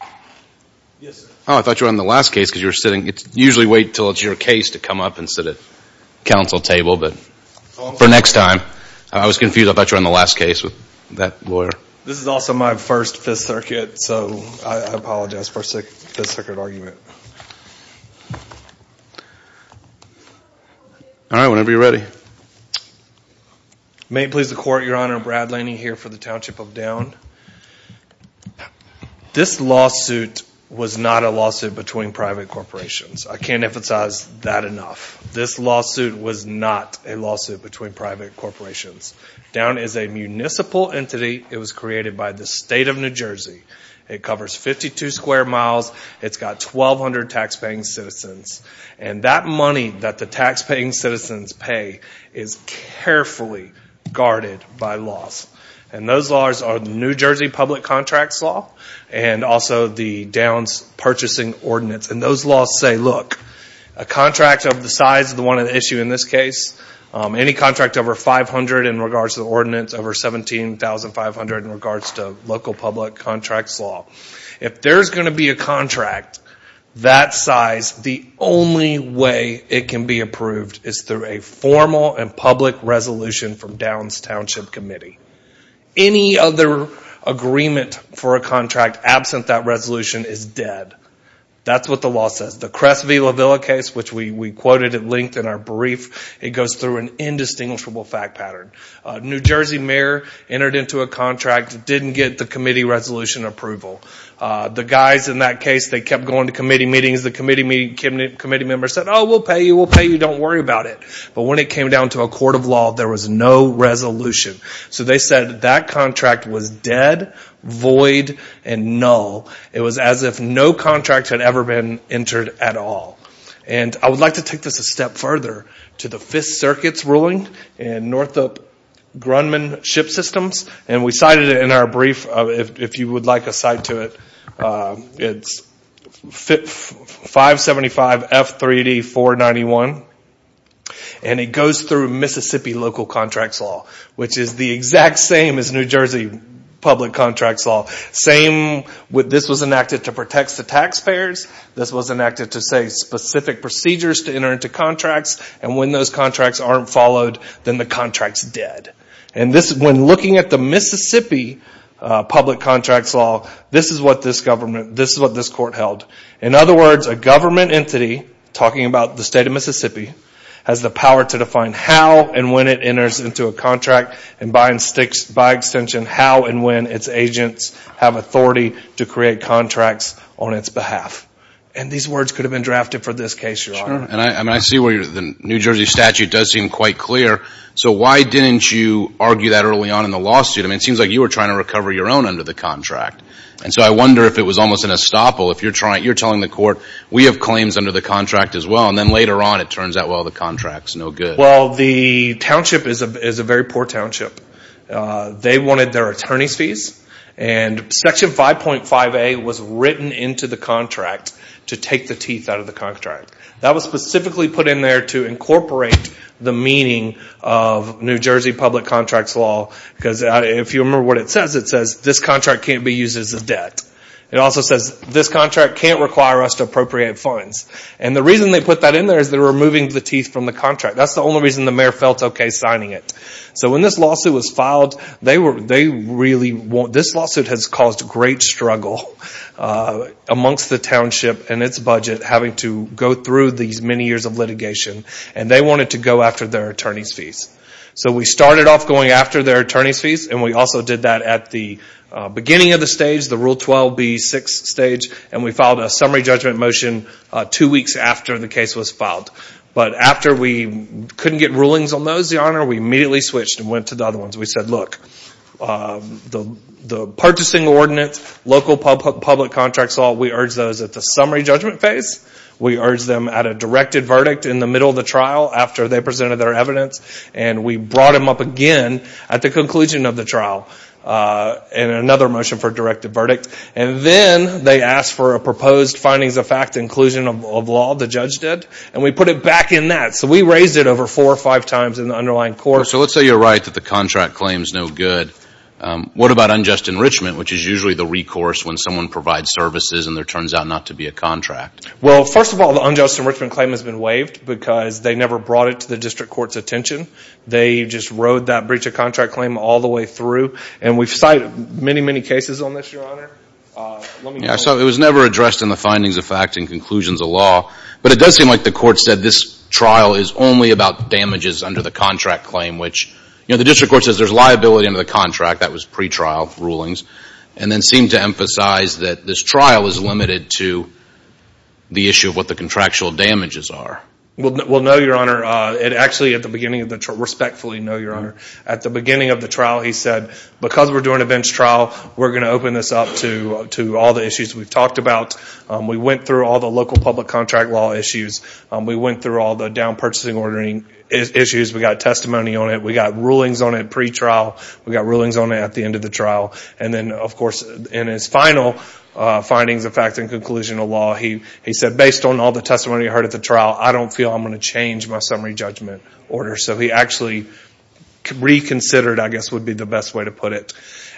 Oh, I thought you were on the last case because you were sitting. You usually wait until it's your case to come up and sit at council table, but for next time. I was confused. I thought you were on the last case with that lawyer. This is also my first Fifth Circuit, so I apologize for a Fifth Circuit argument. All right, whenever you're ready. May it please the Court, Your Honor, Brad Laney here for the Township of Downe. This lawsuit was not a lawsuit between private corporations. I can't emphasize that enough. This lawsuit was not a lawsuit between private corporations. Downe is a municipal entity. It was created by the state of New Jersey. It covers 52 square miles. It's got 1,200 taxpaying citizens. And that money that the taxpaying citizens pay is carefully guarded by laws. And those laws are the New Jersey Public Contracts Law and also the Downe's Purchasing Ordinance. And those laws say, look, a contract of the size of the one at issue in this case, any contract over 500 in regards to the ordinance, over 17,500 in regards to local public contracts law. If there's going to be a contract that size, the only way it can be approved is through a formal and public resolution from Downe's Township Committee. Any other agreement for a contract absent that resolution is dead. That's what the law says. The Crest v. La Villa case, which we quoted at length in our brief, it goes through an indistinguishable fact pattern. New Jersey mayor entered into a contract, didn't get the committee resolution approval. The guys in that case, they kept going to committee meetings. The committee members said, oh, we'll pay you, we'll pay you, don't worry about it. But when it came down to a court of law, there was no resolution. So they said that contract was dead, void, and null. It was as if no contract had ever been entered at all. And I would like to take this a step further to the Fifth Circuit's ruling in Northup Grunman Ship Systems. And we cited it in our brief. If you would like a cite to it, it's 575F3D491. And it goes through Mississippi local contracts law, which is the exact same as New Jersey public contracts law. This was enacted to protect the taxpayers. This was enacted to say specific procedures to enter into contracts. And when those contracts aren't followed, then the contract's dead. And when looking at the Mississippi public contracts law, this is what this government, this is what this court held. In other words, a government entity, talking about the state of Mississippi, has the power to define how and when it enters into a contract, and by extension how and when its agents have authority to create contracts on its behalf. And these words could have been drafted for this case, Your Honor. And I see where the New Jersey statute does seem quite clear. So why didn't you argue that early on in the lawsuit? I mean, it seems like you were trying to recover your own under the contract. And so I wonder if it was almost an estoppel. If you're telling the court, we have claims under the contract as well, and then later on it turns out, well, the contract's no good. Well, the township is a very poor township. They wanted their attorney's fees. And Section 5.5A was written into the contract to take the teeth out of the contract. That was specifically put in there to incorporate the meaning of New Jersey public contracts law. Because if you remember what it says, it says, this contract can't be used as a debt. It also says, this contract can't require us to appropriate funds. And the reason they put that in there is they're removing the teeth from the contract. That's the only reason the mayor felt okay signing it. So when this lawsuit was filed, this lawsuit has caused great struggle amongst the township and its budget having to go through these many years of litigation, and they wanted to go after their attorney's fees. So we started off going after their attorney's fees, and we also did that at the beginning of the stage, the Rule 12b6 stage, and we filed a summary judgment motion two weeks after the case was filed. But after we couldn't get rulings on those, Your Honor, we immediately switched and went to the other ones. We said, look, the purchasing ordinance, local public contracts law, we urged those at the summary judgment phase. We urged them at a directed verdict in the middle of the trial after they presented their evidence, and we brought them up again at the conclusion of the trial in another motion for directed verdict. And then they asked for a proposed findings of fact inclusion of law, the judge did, and we put it back in that. So we raised it over four or five times in the underlying court. So let's say you're right that the contract claims no good. What about unjust enrichment, which is usually the recourse when someone provides services and there turns out not to be a contract? Well, first of all, the unjust enrichment claim has been waived because they never brought it to the district court's attention. They just rode that breach of contract claim all the way through, and we've cited many, many cases on this, Your Honor. So it was never addressed in the findings of fact and conclusions of law, but it does seem like the court said this trial is only about damages under the contract claim, which the district court says there's liability under the contract, that was pretrial rulings, and then seemed to emphasize that this trial is limited to the issue of what the contractual damages are. Well, no, Your Honor. It actually, at the beginning of the trial, respectfully, no, Your Honor. At the beginning of the trial, he said because we're doing a bench trial, we're going to open this up to all the issues we've talked about. We went through all the local public contract law issues. We went through all the down-purchasing ordering issues. We got testimony on it. We got rulings on it pretrial. We got rulings on it at the end of the trial. And then, of course, in his final findings of fact and conclusion of law, he said based on all the testimony I heard at the trial, I don't feel I'm going to change my summary judgment order. So he actually reconsidered, I guess, would be the best way to put it.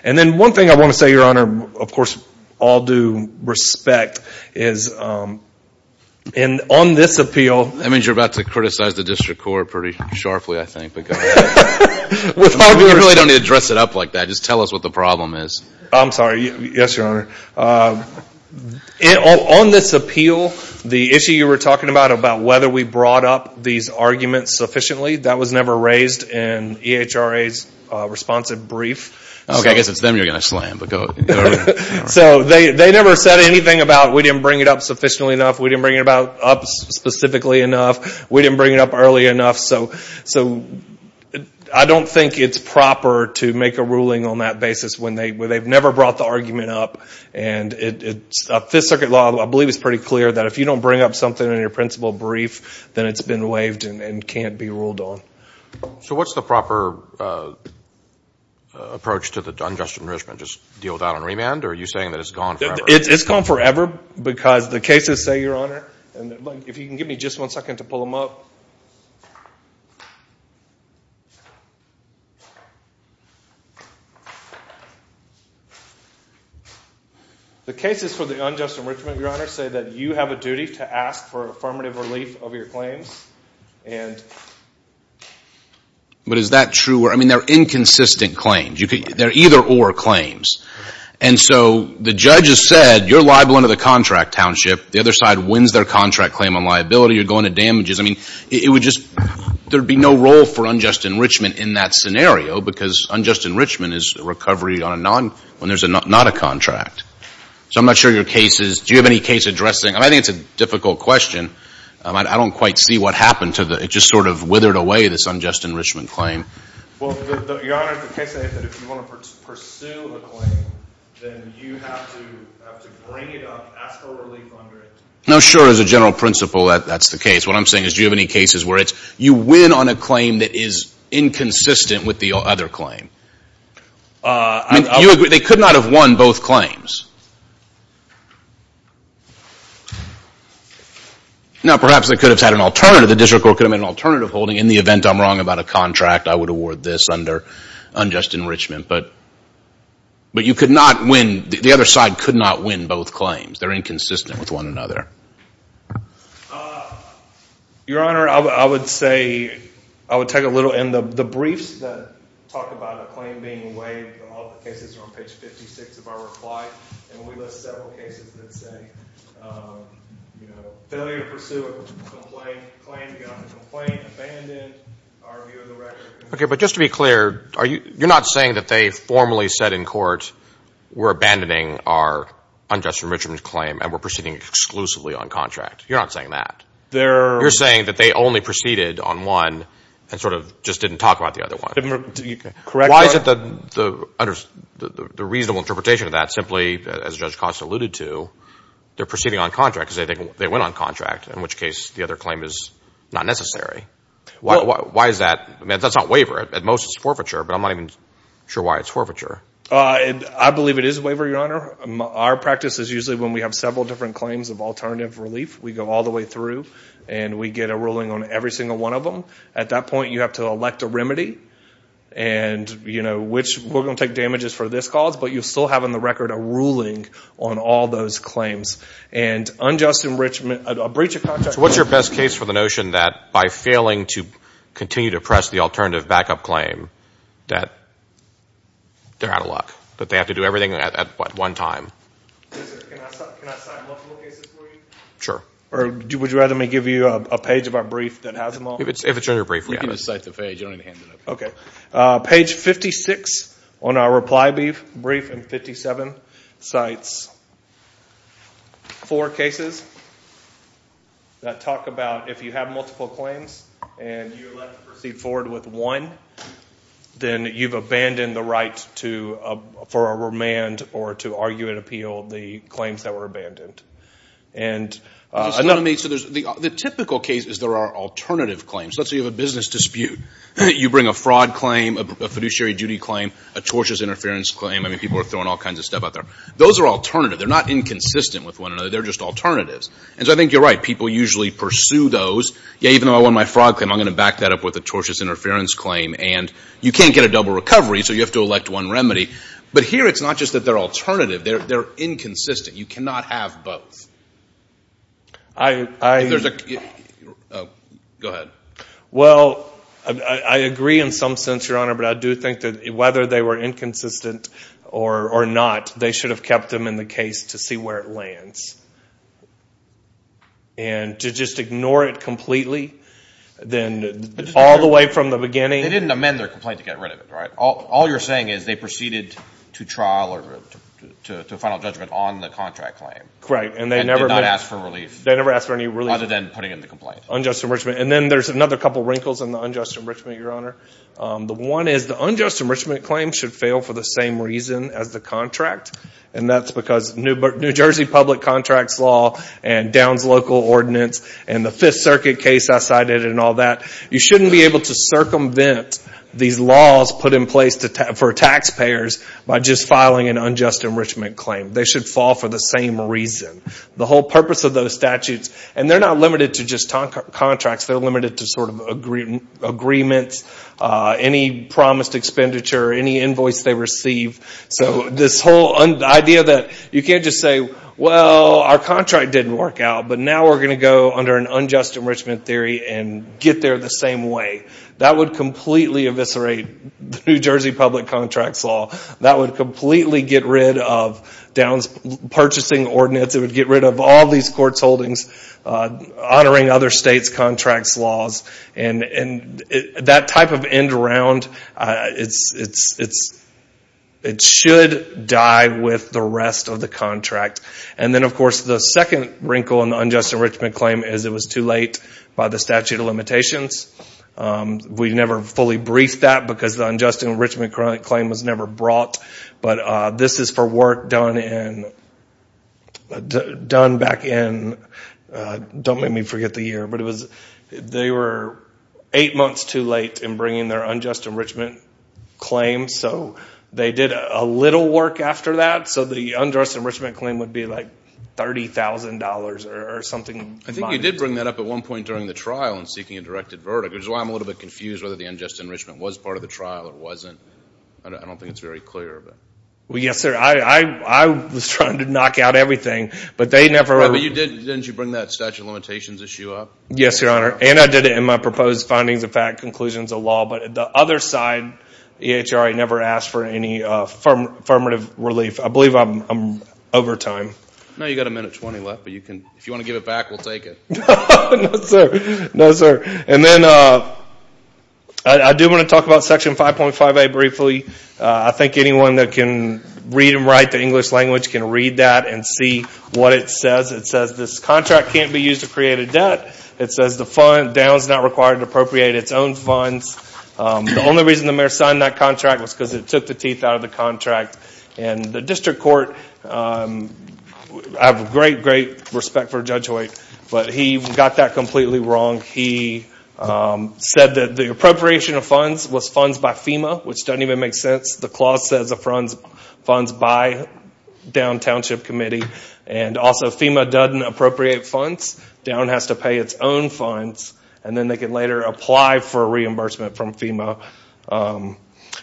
And then one thing I want to say, Your Honor, of course, all due respect, is on this appeal. That means you're about to criticize the district court pretty sharply, I think. You really don't need to dress it up like that. Just tell us what the problem is. I'm sorry. Yes, Your Honor. On this appeal, the issue you were talking about, about whether we brought up these arguments sufficiently, that was never raised in EHRA's responsive brief. I guess it's them you're going to slam. So they never said anything about we didn't bring it up sufficiently enough, we didn't bring it up specifically enough, we didn't bring it up early enough. So I don't think it's proper to make a ruling on that basis when they've never brought the argument up. And Fifth Circuit law, I believe, is pretty clear that if you don't bring up something in your principal brief, then it's been waived and can't be ruled on. So what's the proper approach to the unjust enrichment? Just deal with that on remand, or are you saying that it's gone forever? It's gone forever because the cases say, Your Honor, and if you can give me just one second to pull them up. The cases for the unjust enrichment, Your Honor, say that you have a duty to ask for affirmative relief of your claims. But is that true? I mean, they're inconsistent claims. They're either-or claims. And so the judge has said, You're liable under the contract, Township. The other side wins their contract claim on liability. You're going to damages. I mean, it would just-there would be no role for unjust enrichment in that scenario because unjust enrichment is recovery on a non-when there's not a contract. So I'm not sure your case is-do you have any case addressing-and I think it's a difficult question. I don't quite see what happened to the-it just sort of withered away, this unjust enrichment claim. Well, Your Honor, the case said that if you want to pursue a claim, then you have to bring it up, ask for relief under it. No, sure. As a general principle, that's the case. What I'm saying is do you have any cases where it's you win on a claim that is inconsistent with the other claim? I mean, you agree they could not have won both claims. Now, perhaps they could have had an alternative. The district court could have made an alternative holding. In the event I'm wrong about a contract, I would award this under unjust enrichment. But you could not win-the other side could not win both claims. They're inconsistent with one another. Your Honor, I would say-I would take a little-and the briefs that talk about a claim being waived, all the cases are on page 56 of our reply, and we list several cases that say, you know, we're ready to pursue a complaint, claim to get off the complaint, abandon our view of the record. Okay, but just to be clear, you're not saying that they formally said in court, we're abandoning our unjust enrichment claim and we're proceeding exclusively on contract. You're not saying that. You're saying that they only proceeded on one and sort of just didn't talk about the other one. Correct. Why is it the reasonable interpretation of that simply, as Judge Costa alluded to, they're proceeding on contract because they went on contract, in which case the other claim is not necessary. Why is that? That's not waiver. At most it's forfeiture, but I'm not even sure why it's forfeiture. I believe it is waiver, Your Honor. Our practice is usually when we have several different claims of alternative relief, we go all the way through and we get a ruling on every single one of them. At that point, you have to elect a remedy and, you know, which we're going to take damages for this cause, but you still have on the record a ruling on all those claims. And unjust enrichment, a breach of contract. So what's your best case for the notion that by failing to continue to press the alternative backup claim, that they're out of luck, that they have to do everything at one time? Can I cite multiple cases for you? Sure. Or would you rather me give you a page of our brief that has them all? If it's in your brief, yeah. You can just cite the page. You don't need to hand it up. Okay. Page 56 on our reply brief and 57 cites four cases that talk about if you have multiple claims and you're allowed to proceed forward with one, then you've abandoned the right for a remand or to argue and appeal the claims that were abandoned. The typical case is there are alternative claims. Let's say you have a business dispute. You bring a fraud claim, a fiduciary duty claim, a tortious interference claim. I mean, people are throwing all kinds of stuff out there. Those are alternative. They're not inconsistent with one another. They're just alternatives. And so I think you're right. People usually pursue those. Yeah, even though I won my fraud claim, I'm going to back that up with a tortious interference claim. And you can't get a double recovery, so you have to elect one remedy. But here it's not just that they're alternative. They're inconsistent. You cannot have both. Go ahead. Well, I agree in some sense, Your Honor, but I do think that whether they were inconsistent or not, they should have kept them in the case to see where it lands. And to just ignore it completely, then all the way from the beginning. They didn't amend their complaint to get rid of it, right? All you're saying is they proceeded to trial or to final judgment on the contract claim. Right. And did not ask for relief. They never asked for any relief. Rather than putting in the complaint. Unjust enrichment. And then there's another couple wrinkles in the unjust enrichment, Your Honor. The one is the unjust enrichment claim should fail for the same reason as the contract, and that's because New Jersey public contracts law and Downs local ordinance and the Fifth Circuit case I cited and all that, you shouldn't be able to circumvent these laws put in place for taxpayers by just filing an unjust enrichment claim. They should fall for the same reason. The whole purpose of those statutes, and they're not limited to just contracts, they're limited to sort of agreements, any promised expenditure, any invoice they receive. So this whole idea that you can't just say, well, our contract didn't work out, but now we're going to go under an unjust enrichment theory and get there the same way. That would completely eviscerate New Jersey public contracts law. That would completely get rid of Downs purchasing ordinance. It would get rid of all these courts holdings honoring other states' contracts laws. And that type of end round, it should die with the rest of the contract. And then, of course, the second wrinkle in the unjust enrichment claim is it was too late by the statute of limitations. We never fully briefed that because the unjust enrichment claim was never brought. But this is for work done back in, don't make me forget the year, but they were eight months too late in bringing their unjust enrichment claim. So they did a little work after that. So the unjust enrichment claim would be like $30,000 or something. I think you did bring that up at one point during the trial in seeking a directed verdict, which is why I'm a little bit confused whether the unjust enrichment was part of the trial or wasn't. I don't think it's very clear. Well, yes, sir. I was trying to knock out everything, but they never— Didn't you bring that statute of limitations issue up? Yes, Your Honor, and I did it in my proposed findings of fact conclusions of law. But the other side, the EHRA never asked for any affirmative relief. I believe I'm over time. No, you've got a minute 20 left. But if you want to give it back, we'll take it. No, sir. And then I do want to talk about Section 5.5a briefly. I think anyone that can read and write the English language can read that and see what it says. It says this contract can't be used to create a debt. It says the down is not required to appropriate its own funds. The only reason the mayor signed that contract was because it took the teeth out of the contract. And the district court—I have great, great respect for Judge Hoyt, but he got that completely wrong. He said that the appropriation of funds was funds by FEMA, which doesn't even make sense. The clause says funds by downtownship committee, and also FEMA doesn't appropriate funds. Down has to pay its own funds, and then they can later apply for reimbursement from FEMA.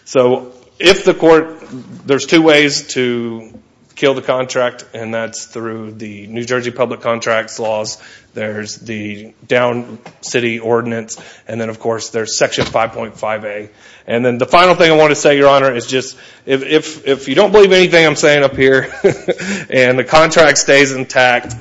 So if the court—there's two ways to kill the contract, and that's through the New Jersey public contracts laws. There's the down city ordinance, and then, of course, there's Section 5.5a. And then the final thing I want to say, Your Honor, is just if you don't believe anything I'm saying up here and the contract stays intact,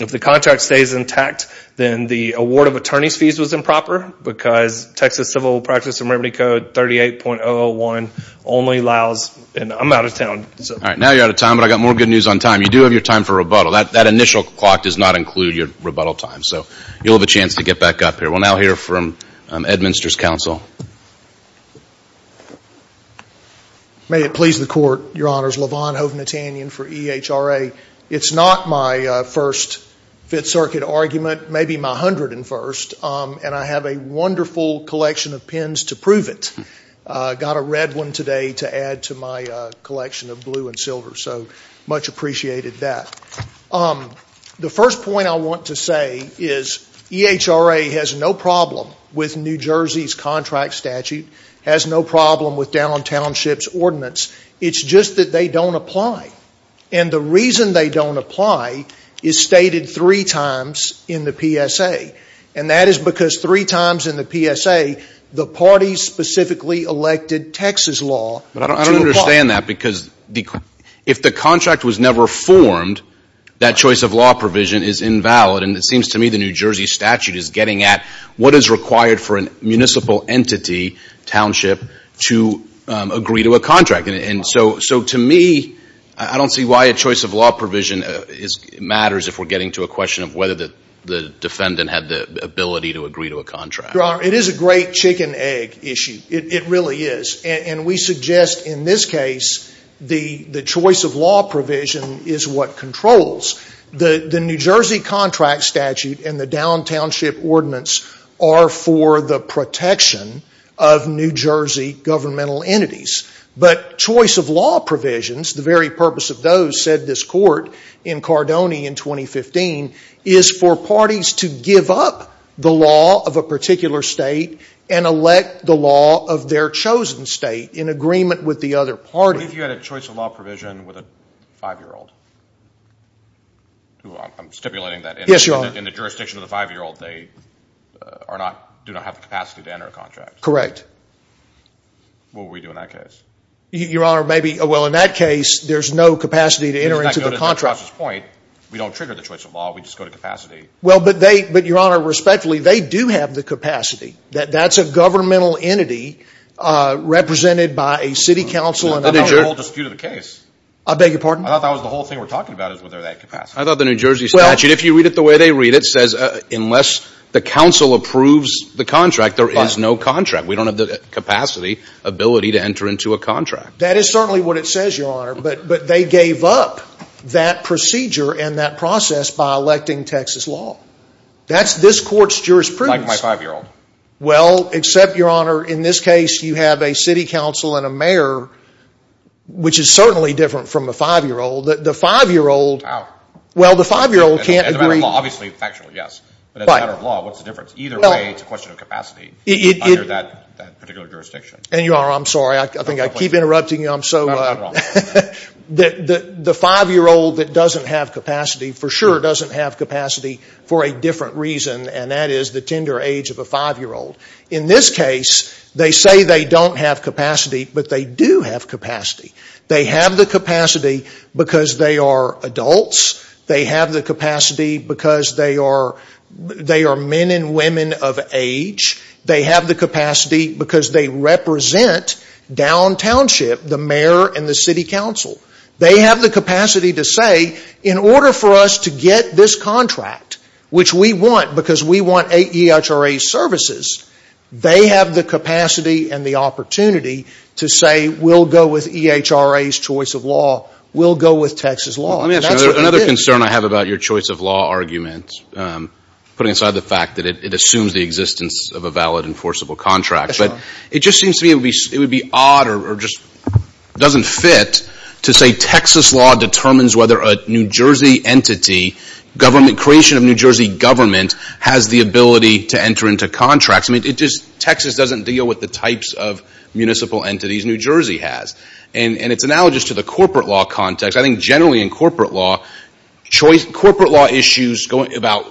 if the contract stays intact, then the award of attorney's fees was improper because Texas Civil Practice and Remedy Code 38.001 only allows—and I'm out of town. All right. Now you're out of time, but I've got more good news on time. You do have your time for rebuttal. That initial clock does not include your rebuttal time. So you'll have a chance to get back up here. We'll now hear from Ed Minster's counsel. May it please the Court, Your Honors. for EHRA. It's not my first Fifth Circuit argument, maybe my hundredth and first, and I have a wonderful collection of pins to prove it. I got a red one today to add to my collection of blue and silver, so much appreciated that. The first point I want to say is EHRA has no problem with New Jersey's contract statute, has no problem with downtownship's ordinance. It's just that they don't apply, and the reason they don't apply is stated three times in the PSA, and that is because three times in the PSA, the parties specifically elected Texas law to apply. But I don't understand that because if the contract was never formed, that choice of law provision is invalid, and it seems to me the New Jersey statute is getting at what is required for a municipal entity, township, to agree to a contract. And so to me, I don't see why a choice of law provision matters if we're getting to a question of whether the defendant had the ability to agree to a contract. Your Honor, it is a great chicken-egg issue. It really is. And we suggest in this case the choice of law provision is what controls. The New Jersey contract statute and the downtownship ordinance are for the protection of New Jersey governmental entities. But choice of law provisions, the very purpose of those, said this court in Cardone in 2015, is for parties to give up the law of a particular state and elect the law of their chosen state in agreement with the other party. What if you had a choice of law provision with a 5-year-old? I'm stipulating that in the jurisdiction of the 5-year-old, they do not have the capacity to enter a contract. Correct. What would we do in that case? Your Honor, maybe, well, in that case, there's no capacity to enter into the contract. We don't trigger the choice of law. We just go to capacity. Well, but, Your Honor, respectfully, they do have the capacity. That's a governmental entity represented by a city council. That's not the whole dispute of the case. I beg your pardon? I thought that was the whole thing we're talking about is whether they have capacity. I thought the New Jersey statute, if you read it the way they read it, says unless the council approves the contract, there is no contract. We don't have the capacity, ability to enter into a contract. That is certainly what it says, Your Honor. But they gave up that procedure and that process by electing Texas law. That's this court's jurisprudence. Like my 5-year-old. Well, except, Your Honor, in this case, you have a city council and a mayor, which is certainly different from a 5-year-old. The 5-year-old, well, the 5-year-old can't agree. As a matter of law, obviously, factually, yes. But as a matter of law, what's the difference? Either way, it's a question of capacity under that particular jurisdiction. And, Your Honor, I'm sorry. I think I keep interrupting you. The 5-year-old that doesn't have capacity for sure doesn't have capacity for a different reason, and that is the tender age of a 5-year-old. In this case, they say they don't have capacity, but they do have capacity. They have the capacity because they are adults. They have the capacity because they are men and women of age. They have the capacity because they represent downtownship, the mayor and the city council. They have the capacity to say, in order for us to get this contract, which we want because we want EHRA services, they have the capacity and the opportunity to say we'll go with EHRA's choice of law, we'll go with Texas law. Let me ask you another concern I have about your choice of law argument, putting aside the fact that it assumes the existence of a valid enforceable contract. It just seems to me it would be odd or just doesn't fit to say Texas law determines whether a New Jersey entity, creation of a New Jersey government, has the ability to enter into contracts. Texas doesn't deal with the types of municipal entities New Jersey has. And it's analogous to the corporate law context. I think generally in corporate law, corporate law issues about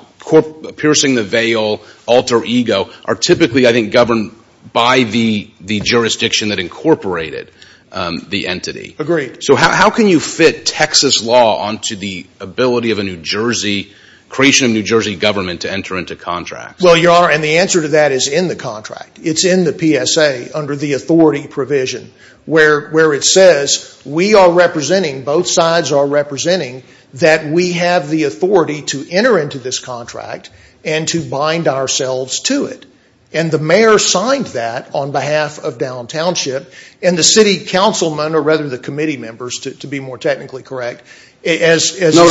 piercing the veil, alter ego, are typically, I think, governed by the jurisdiction that incorporated the entity. Agreed. So how can you fit Texas law onto the ability of a New Jersey, creation of a New Jersey government to enter into contracts? Well, Your Honor, and the answer to that is in the contract. It's in the PSA under the authority provision where it says we are representing, both sides are representing, that we have the authority to enter into this contract and to bind ourselves to it. And the mayor signed that on behalf of downtownship, and the city councilman, or rather the committee members, to be more technically correct. No, I'm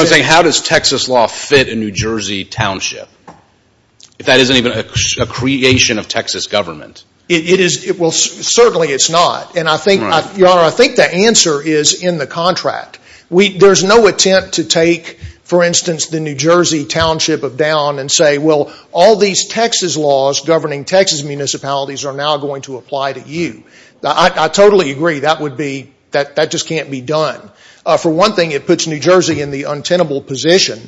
saying how does Texas law fit a New Jersey township? If that isn't even a creation of Texas government. It is. Well, certainly it's not. And I think, Your Honor, I think the answer is in the contract. There's no attempt to take, for instance, the New Jersey township of down and say, well, all these Texas laws governing Texas municipalities are now going to apply to you. I totally agree. That would be, that just can't be done. For one thing, it puts New Jersey in the untenable position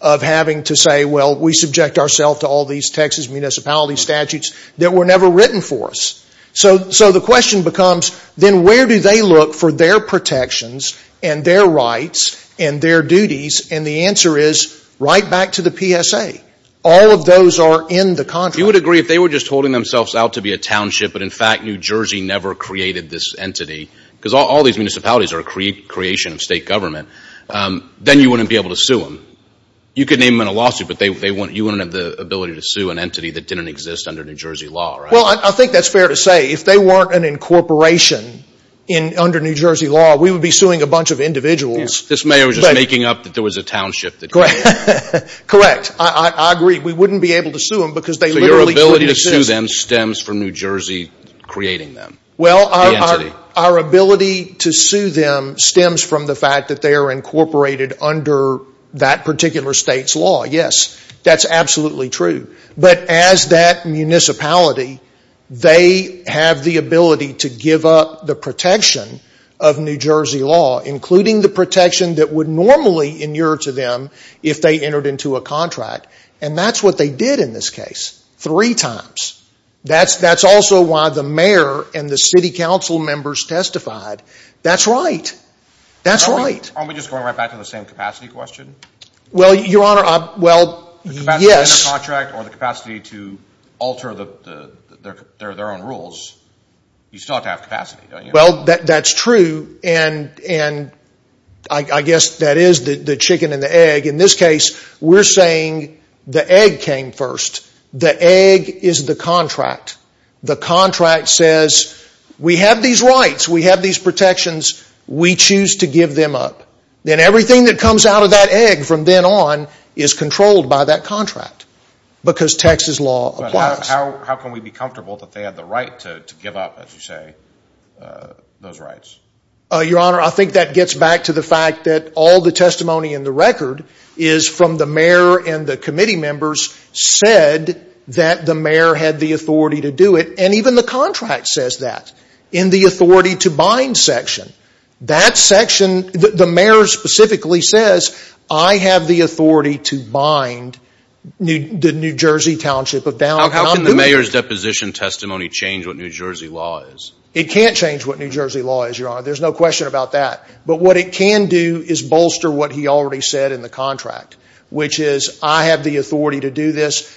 of having to say, well, we subject ourselves to all these Texas municipality statutes that were never written for us. So the question becomes, then where do they look for their protections and their rights and their duties? And the answer is right back to the PSA. All of those are in the contract. You would agree if they were just holding themselves out to be a township, but in fact New Jersey never created this entity, because all these municipalities are a creation of state government, then you wouldn't be able to sue them. You could name them in a lawsuit, but you wouldn't have the ability to sue an entity that didn't exist under New Jersey law, right? Well, I think that's fair to say. If they weren't an incorporation under New Jersey law, we would be suing a bunch of individuals. This mayor was just making up that there was a township that created them. Correct. I agree. We wouldn't be able to sue them because they literally couldn't exist. So your ability to sue them stems from New Jersey creating them, the entity? Well, our ability to sue them stems from the fact that they are incorporated under that particular state's law, yes. That's absolutely true. But as that municipality, they have the ability to give up the protection of New Jersey law, including the protection that would normally inure to them if they entered into a contract, and that's what they did in this case, three times. That's also why the mayor and the city council members testified. That's right. That's right. Aren't we just going right back to the same capacity question? Well, Your Honor, well, yes. Even within a contract or the capacity to alter their own rules, you still have to have capacity, don't you? Well, that's true, and I guess that is the chicken and the egg. In this case, we're saying the egg came first. The egg is the contract. The contract says we have these rights, we have these protections, we choose to give them up. Then everything that comes out of that egg from then on is controlled by that contract because Texas law applies. But how can we be comfortable that they have the right to give up, as you say, those rights? Your Honor, I think that gets back to the fact that all the testimony in the record is from the mayor and the committee members said that the mayor had the authority to do it, and even the contract says that in the authority to bind section. That section, the mayor specifically says, I have the authority to bind the New Jersey Township of downtown. How can the mayor's deposition testimony change what New Jersey law is? It can't change what New Jersey law is, Your Honor. There's no question about that. But what it can do is bolster what he already said in the contract, which is I have the authority to do this.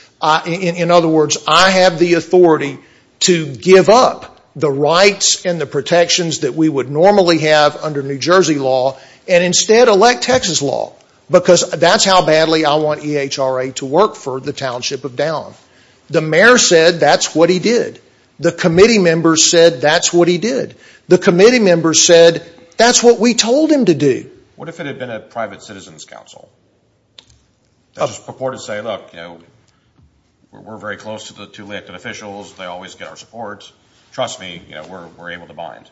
In other words, I have the authority to give up the rights and the protections that we would normally have under New Jersey law and instead elect Texas law because that's how badly I want EHRA to work for the Township of down. The mayor said that's what he did. The committee members said that's what he did. The committee members said that's what we told him to do. What if it had been a private citizen's council? I just purport to say, look, we're very close to the elected officials. They always get our support. Trust me, we're able to bind.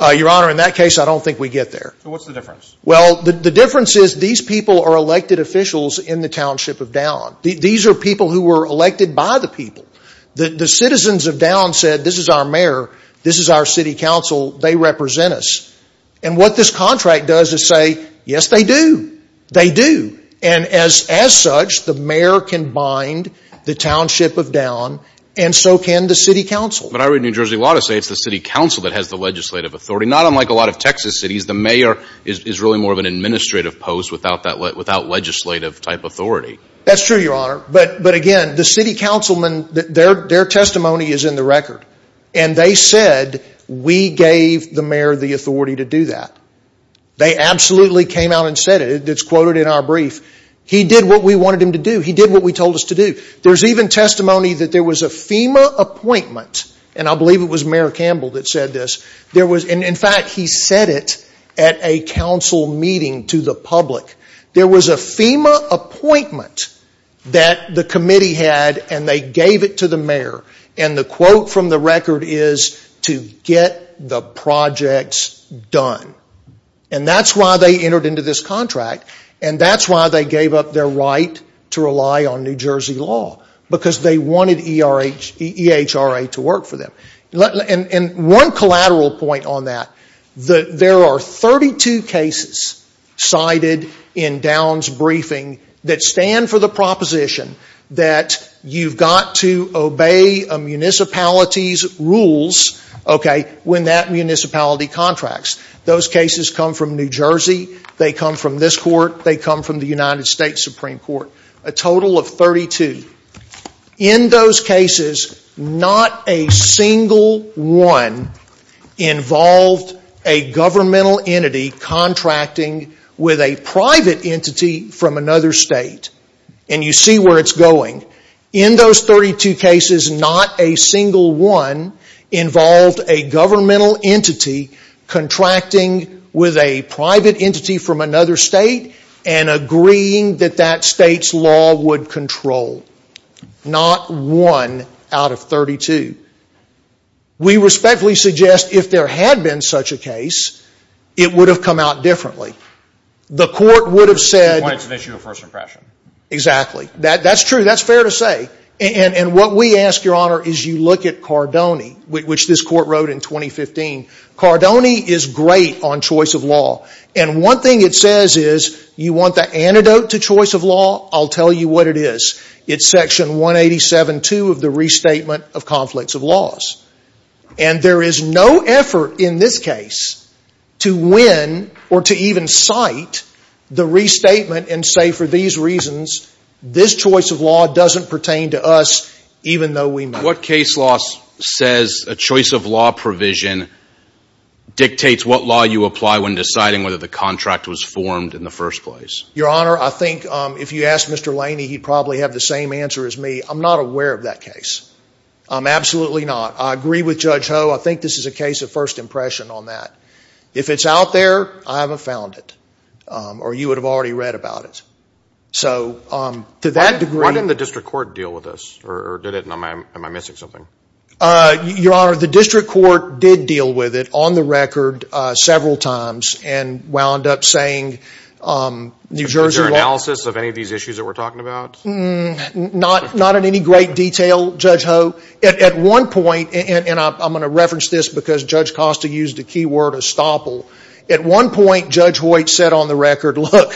Your Honor, in that case, I don't think we get there. So what's the difference? Well, the difference is these people are elected officials in the Township of down. These are people who were elected by the people. The citizens of down said this is our mayor, this is our city council, they represent us. And what this contract does is say, yes, they do. They do. And as such, the mayor can bind the Township of down and so can the city council. But I read New Jersey law to say it's the city council that has the legislative authority. Not unlike a lot of Texas cities, the mayor is really more of an administrative post without legislative type authority. That's true, Your Honor. But again, the city councilmen, their testimony is in the record. And they said we gave the mayor the authority to do that. They absolutely came out and said it. It's quoted in our brief. He did what we wanted him to do. He did what we told us to do. There's even testimony that there was a FEMA appointment, and I believe it was Mayor Campbell that said this. In fact, he said it at a council meeting to the public. There was a FEMA appointment that the committee had and they gave it to the mayor. And the quote from the record is to get the projects done. And that's why they entered into this contract, and that's why they gave up their right to rely on New Jersey law. Because they wanted EHRA to work for them. And one collateral point on that. There are 32 cases cited in Down's briefing that stand for the proposition that you've got to obey a municipality's rules when that municipality contracts. Those cases come from New Jersey. They come from this court. They come from the United States Supreme Court. A total of 32. In those cases, not a single one involved a governmental entity contracting with a private entity from another state. And you see where it's going. In those 32 cases, not a single one involved a governmental entity contracting with a private entity from another state. And agreeing that that state's law would control. Not one out of 32. We respectfully suggest if there had been such a case, it would have come out differently. The court would have said... It's an issue of first impression. Exactly. That's true. That's fair to say. And what we ask, Your Honor, is you look at Cardone. Which this court wrote in 2015. Cardone is great on choice of law. And one thing it says is, you want the antidote to choice of law? I'll tell you what it is. It's section 187.2 of the Restatement of Conflicts of Laws. And there is no effort in this case to win or to even cite the restatement and say, for these reasons, this choice of law doesn't pertain to us, even though we might. What case law says a choice of law provision dictates what law you apply when deciding whether the contract was formed in the first place? Your Honor, I think if you asked Mr. Laney, he'd probably have the same answer as me. I'm not aware of that case. I'm absolutely not. I agree with Judge Ho. I think this is a case of first impression on that. If it's out there, I haven't found it. Or you would have already read about it. So, to that degree... Why didn't the district court deal with this? Or did it? Am I missing something? Your Honor, the district court did deal with it on the record several times and wound up saying, New Jersey law... Is there analysis of any of these issues that we're talking about? Not in any great detail, Judge Ho. At one point, and I'm going to reference this because Judge Costa used the key word, estoppel. At one point, Judge Hoyt said on the record, look,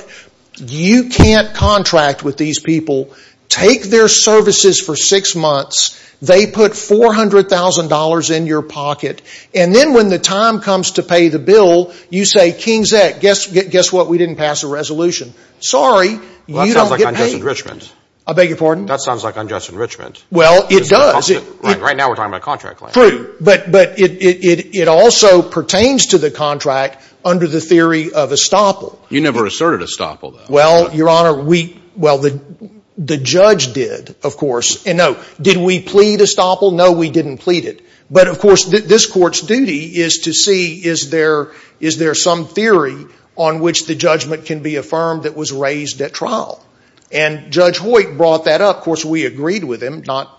you can't contract with these people. Take their services for six months. They put $400,000 in your pocket. And then when the time comes to pay the bill, you say, King's X, guess what? We didn't pass a resolution. Sorry, you don't get paid. That sounds like unjust enrichment. I beg your pardon? That sounds like unjust enrichment. Well, it does. Right now, we're talking about a contract claim. True, but it also pertains to the contract under the theory of estoppel. You never asserted estoppel, though. Well, Your Honor, the judge did, of course. And no, did we plead estoppel? No, we didn't plead it. But, of course, this Court's duty is to see is there some theory on which the judgment can be affirmed that was raised at trial. And Judge Hoyt brought that up. Of course, we agreed with him, not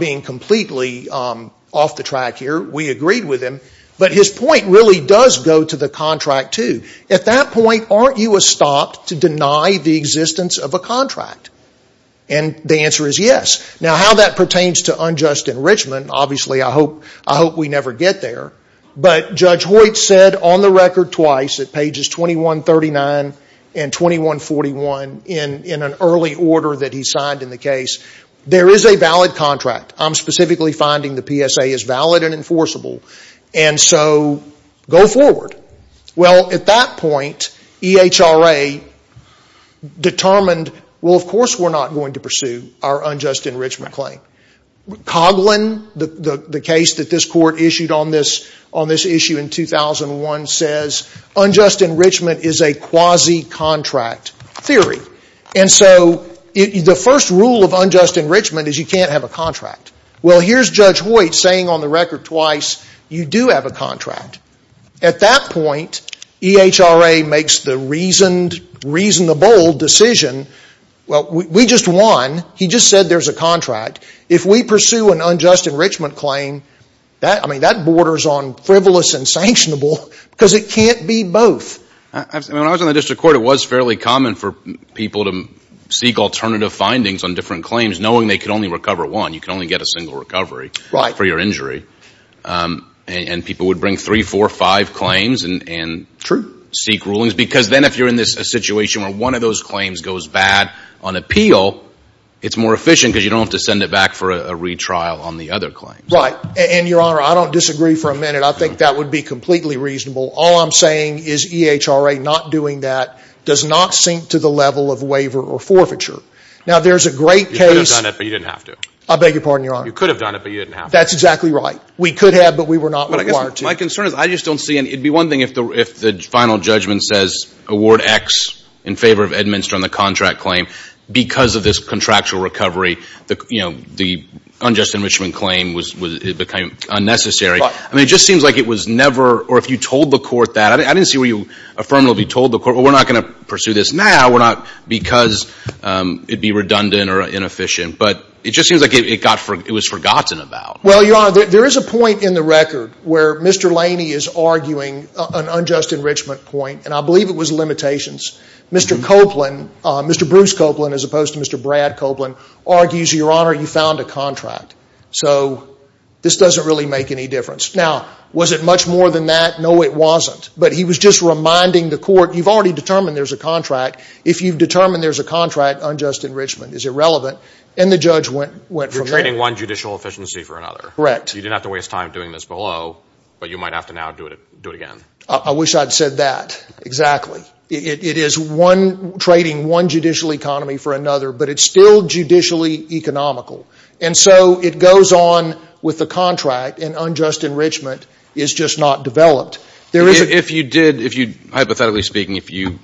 being completely off the track here. We agreed with him. But his point really does go to the contract, too. At that point, aren't you estopped to deny the existence of a contract? And the answer is yes. Now, how that pertains to unjust enrichment, obviously, I hope we never get there. But Judge Hoyt said on the record twice, at pages 2139 and 2141, in an early order that he signed in the case, there is a valid contract. I'm specifically finding the PSA is valid and enforceable, and so go forward. Well, at that point, EHRA determined, well, of course we're not going to pursue our unjust enrichment claim. Coughlin, the case that this Court issued on this issue in 2001, says unjust enrichment is a quasi-contract theory. And so the first rule of unjust enrichment is you can't have a contract. Well, here's Judge Hoyt saying on the record twice, you do have a contract. At that point, EHRA makes the reasoned, reasonable decision, well, we just won. He just said there's a contract. If we pursue an unjust enrichment claim, I mean, that borders on frivolous and sanctionable because it can't be both. When I was on the district court, it was fairly common for people to seek alternative findings on different claims, knowing they could only recover one. You could only get a single recovery for your injury. And people would bring three, four, five claims and seek rulings. Because then if you're in a situation where one of those claims goes bad on appeal, it's more efficient because you don't have to send it back for a retrial on the other claim. Right. And, Your Honor, I don't disagree for a minute. I think that would be completely reasonable. All I'm saying is EHRA not doing that does not sink to the level of waiver or forfeiture. Now, there's a great case. You could have done it, but you didn't have to. I beg your pardon, Your Honor. You could have done it, but you didn't have to. That's exactly right. We could have, but we were not required to. My concern is I just don't see any. It would be one thing if the final judgment says award X in favor of Edminster on the contract claim. Because of this contractual recovery, you know, the unjust enrichment claim became unnecessary. I mean, it just seems like it was never or if you told the court that. I didn't see where you affirmatively told the court, well, we're not going to pursue this now. We're not because it would be redundant or inefficient. But it just seems like it was forgotten about. Well, Your Honor, there is a point in the record where Mr. Laney is arguing an unjust enrichment point, and I believe it was limitations. Mr. Copeland, Mr. Bruce Copeland as opposed to Mr. Brad Copeland, argues, Your Honor, you found a contract. So this doesn't really make any difference. Now, was it much more than that? No, it wasn't. But he was just reminding the court, you've already determined there's a contract. If you've determined there's a contract, unjust enrichment is irrelevant. And the judge went from there. You're trading one judicial efficiency for another. Correct. You didn't have to waste time doing this below, but you might have to now do it again. I wish I'd said that. Exactly. It is trading one judicial economy for another, but it's still judicially economical. And so it goes on with the contract, and unjust enrichment is just not developed. If you did, hypothetically speaking, if you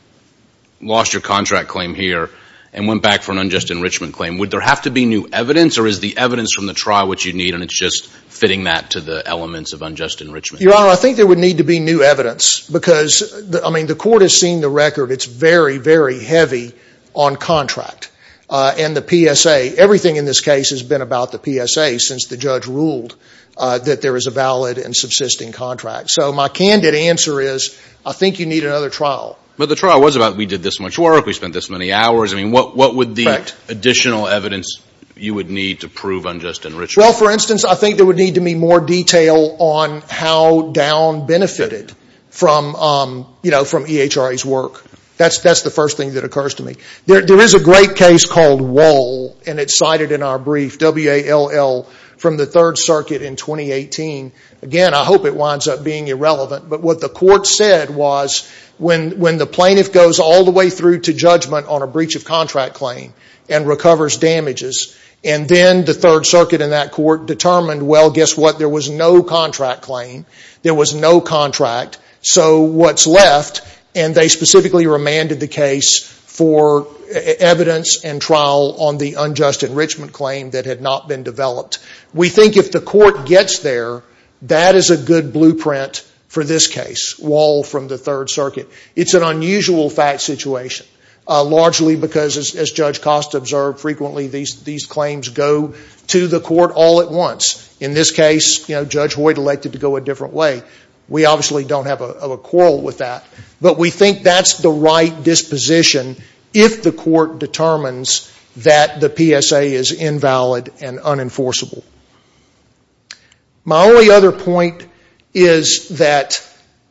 lost your contract claim here and went back for an unjust enrichment claim, would there have to be new evidence or is the evidence from the trial what you need and it's just fitting that to the elements of unjust enrichment? Your Honor, I think there would need to be new evidence because, I mean, the court has seen the record. It's very, very heavy on contract. And the PSA, everything in this case has been about the PSA since the judge ruled that there is a valid and subsisting contract. So my candid answer is I think you need another trial. But the trial was about we did this much work, we spent this many hours. I mean, what would the additional evidence you would need to prove unjust enrichment? Well, for instance, I think there would need to be more detail on how Down benefited from EHRA's work. That's the first thing that occurs to me. There is a great case called Wohl, and it's cited in our brief, W-A-L-L, from the Third Circuit in 2018. Again, I hope it winds up being irrelevant. But what the court said was when the plaintiff goes all the way through to judgment on a breach of contract claim and recovers damages, and then the Third Circuit and that court determined, well, guess what, there was no contract claim, there was no contract. So what's left, and they specifically remanded the case for evidence and trial on the unjust enrichment claim that had not been developed. We think if the court gets there, that is a good blueprint for this case, Wohl from the Third Circuit. It's an unusual fact situation, largely because, as Judge Costa observed frequently, these claims go to the court all at once. In this case, Judge Hoyt elected to go a different way. We obviously don't have a quarrel with that. But we think that's the right disposition if the court determines that the PSA is invalid and unenforceable. My only other point is that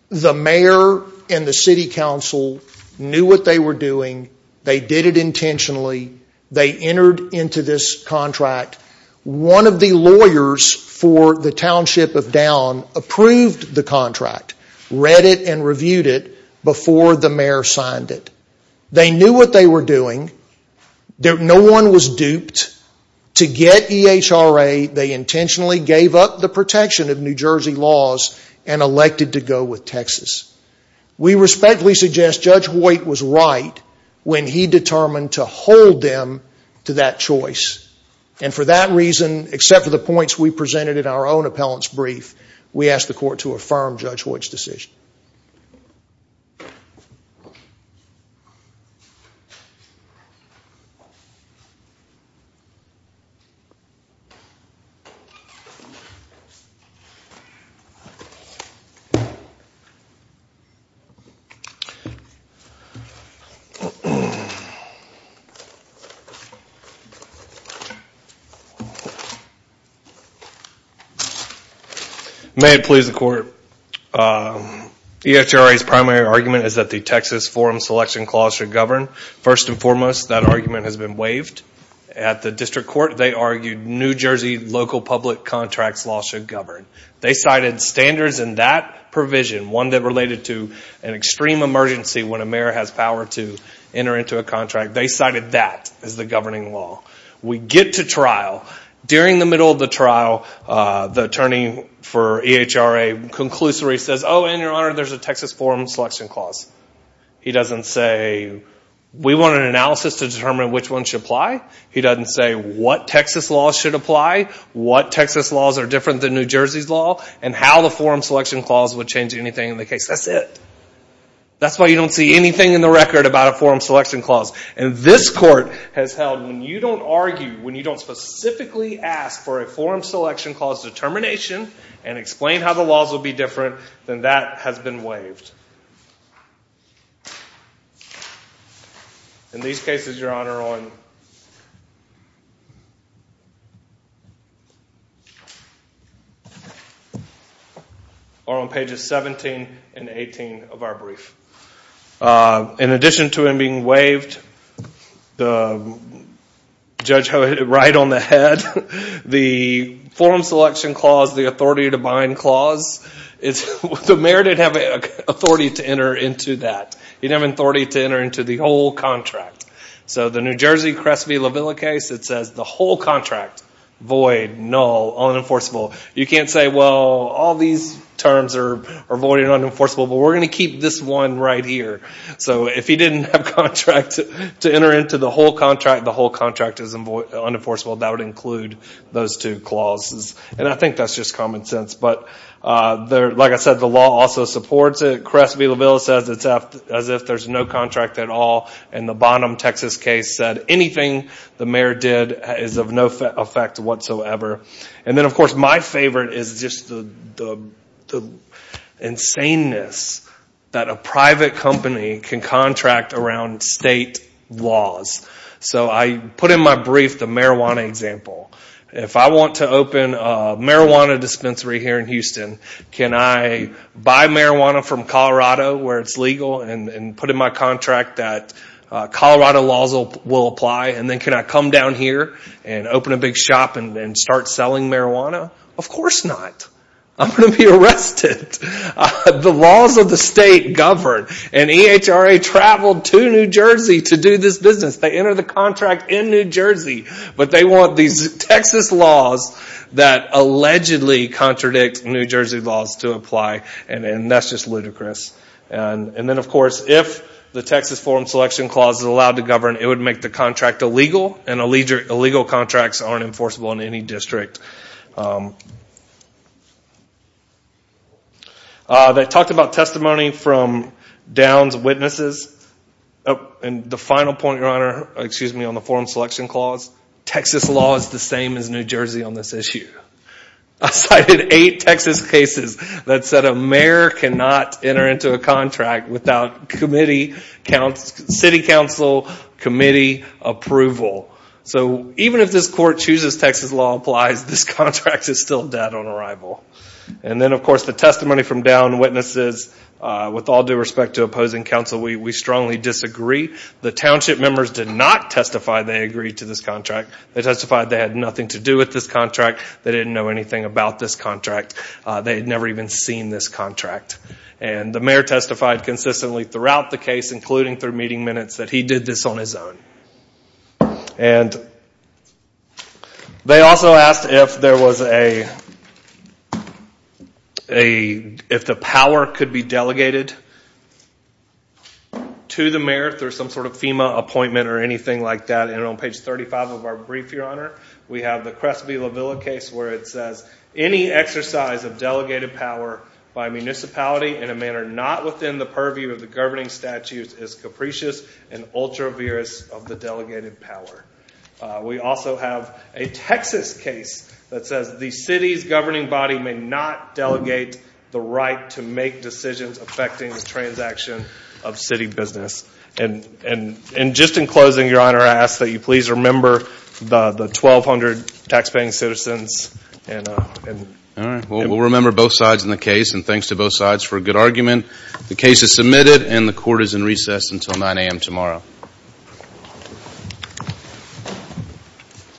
the mayor and the city council knew what they were doing. They did it intentionally. They entered into this contract. One of the lawyers for the township of Down approved the contract, read it and reviewed it before the mayor signed it. They knew what they were doing. No one was duped. To get EHRA, they intentionally gave up the protection of New Jersey laws and elected to go with Texas. We respectfully suggest Judge Hoyt was right when he determined to hold them to that choice. And for that reason, except for the points we presented in our own appellant's brief, we ask the court to affirm Judge Hoyt's decision. May it please the court. EHRA's primary argument is that the Texas Forum Selection Clause should govern. First and foremost, that argument has been waived. At the district court, they argued New Jersey local public contracts law should govern. They cited standards in that provision, one that related to an extreme emergency when a mayor has power to enter into a contract. They cited that as the governing law. We get to trial. During the middle of the trial, the attorney for EHRA conclusively says, oh, and your honor, there's a Texas Forum Selection Clause. He doesn't say, we want an analysis to determine which one should apply. He doesn't say what Texas laws should apply, what Texas laws are different than New Jersey's law, and how the Forum Selection Clause would change anything in the case. That's it. That's why you don't see anything in the record about a Forum Selection Clause. And this court has held, when you don't argue, when you don't specifically ask for a Forum Selection Clause determination and explain how the laws will be different, then that has been waived. And these cases, your honor, are on pages 17 and 18 of our brief. In addition to him being waived, the judge hit it right on the head. The Forum Selection Clause, the authority to bind clause, the mayor didn't have authority to enter into that. He didn't have authority to enter into the whole contract. So the New Jersey Crest v. La Villa case, it says the whole contract, void, null, unenforceable. You can't say, well, all these terms are void and unenforceable, but we're going to keep this one right here. So if he didn't have contract to enter into the whole contract, the whole contract is unenforceable. That would include those two clauses. And I think that's just common sense. But like I said, the law also supports it. Crest v. La Villa says it's as if there's no contract at all. And the Bonham, Texas case said anything the mayor did is of no effect whatsoever. And then, of course, my favorite is just the insaneness that a private company can contract around state laws. So I put in my brief the marijuana example. If I want to open a marijuana dispensary here in Houston, can I buy marijuana from Colorado where it's legal and put in my contract that Colorado laws will apply? And then can I come down here and open a big shop and start selling marijuana? Of course not. I'm going to be arrested. The laws of the state govern. And EHRA traveled to New Jersey to do this business. They enter the contract in New Jersey. But they want these Texas laws that allegedly contradict New Jersey laws to apply. And that's just ludicrous. And then, of course, if the Texas Forum Selection Clause is allowed to govern, it would make the contract illegal, and illegal contracts aren't enforceable in any district. They talked about testimony from Downs' witnesses. And the final point, Your Honor, excuse me, on the Forum Selection Clause, Texas law is the same as New Jersey on this issue. I cited eight Texas cases that said a mayor cannot enter into a contract without city council committee approval. So even if this court chooses Texas law applies, this contract is still dead on arrival. And then, of course, the testimony from Downs' witnesses, with all due respect to opposing counsel, we strongly disagree. The township members did not testify they agreed to this contract. They testified they had nothing to do with this contract. They didn't know anything about this contract. They had never even seen this contract. And the mayor testified consistently throughout the case, including through meeting minutes, that he did this on his own. And they also asked if there was a, if the power could be delegated to the mayor through some sort of FEMA appointment or anything like that. And on page 35 of our brief, Your Honor, we have the Crestby-LaVilla case where it says, any exercise of delegated power by a municipality in a manner not within the purview of the governing statutes is capricious and ultra-virus of the delegated power. We also have a Texas case that says the city's governing body may not delegate the right to make decisions affecting the transaction of city business. And just in closing, Your Honor, I ask that you please remember the 1,200 taxpaying citizens. All right. We'll remember both sides in the case, and thanks to both sides for a good argument. The case is submitted, and the court is in recess until 9 a.m. tomorrow.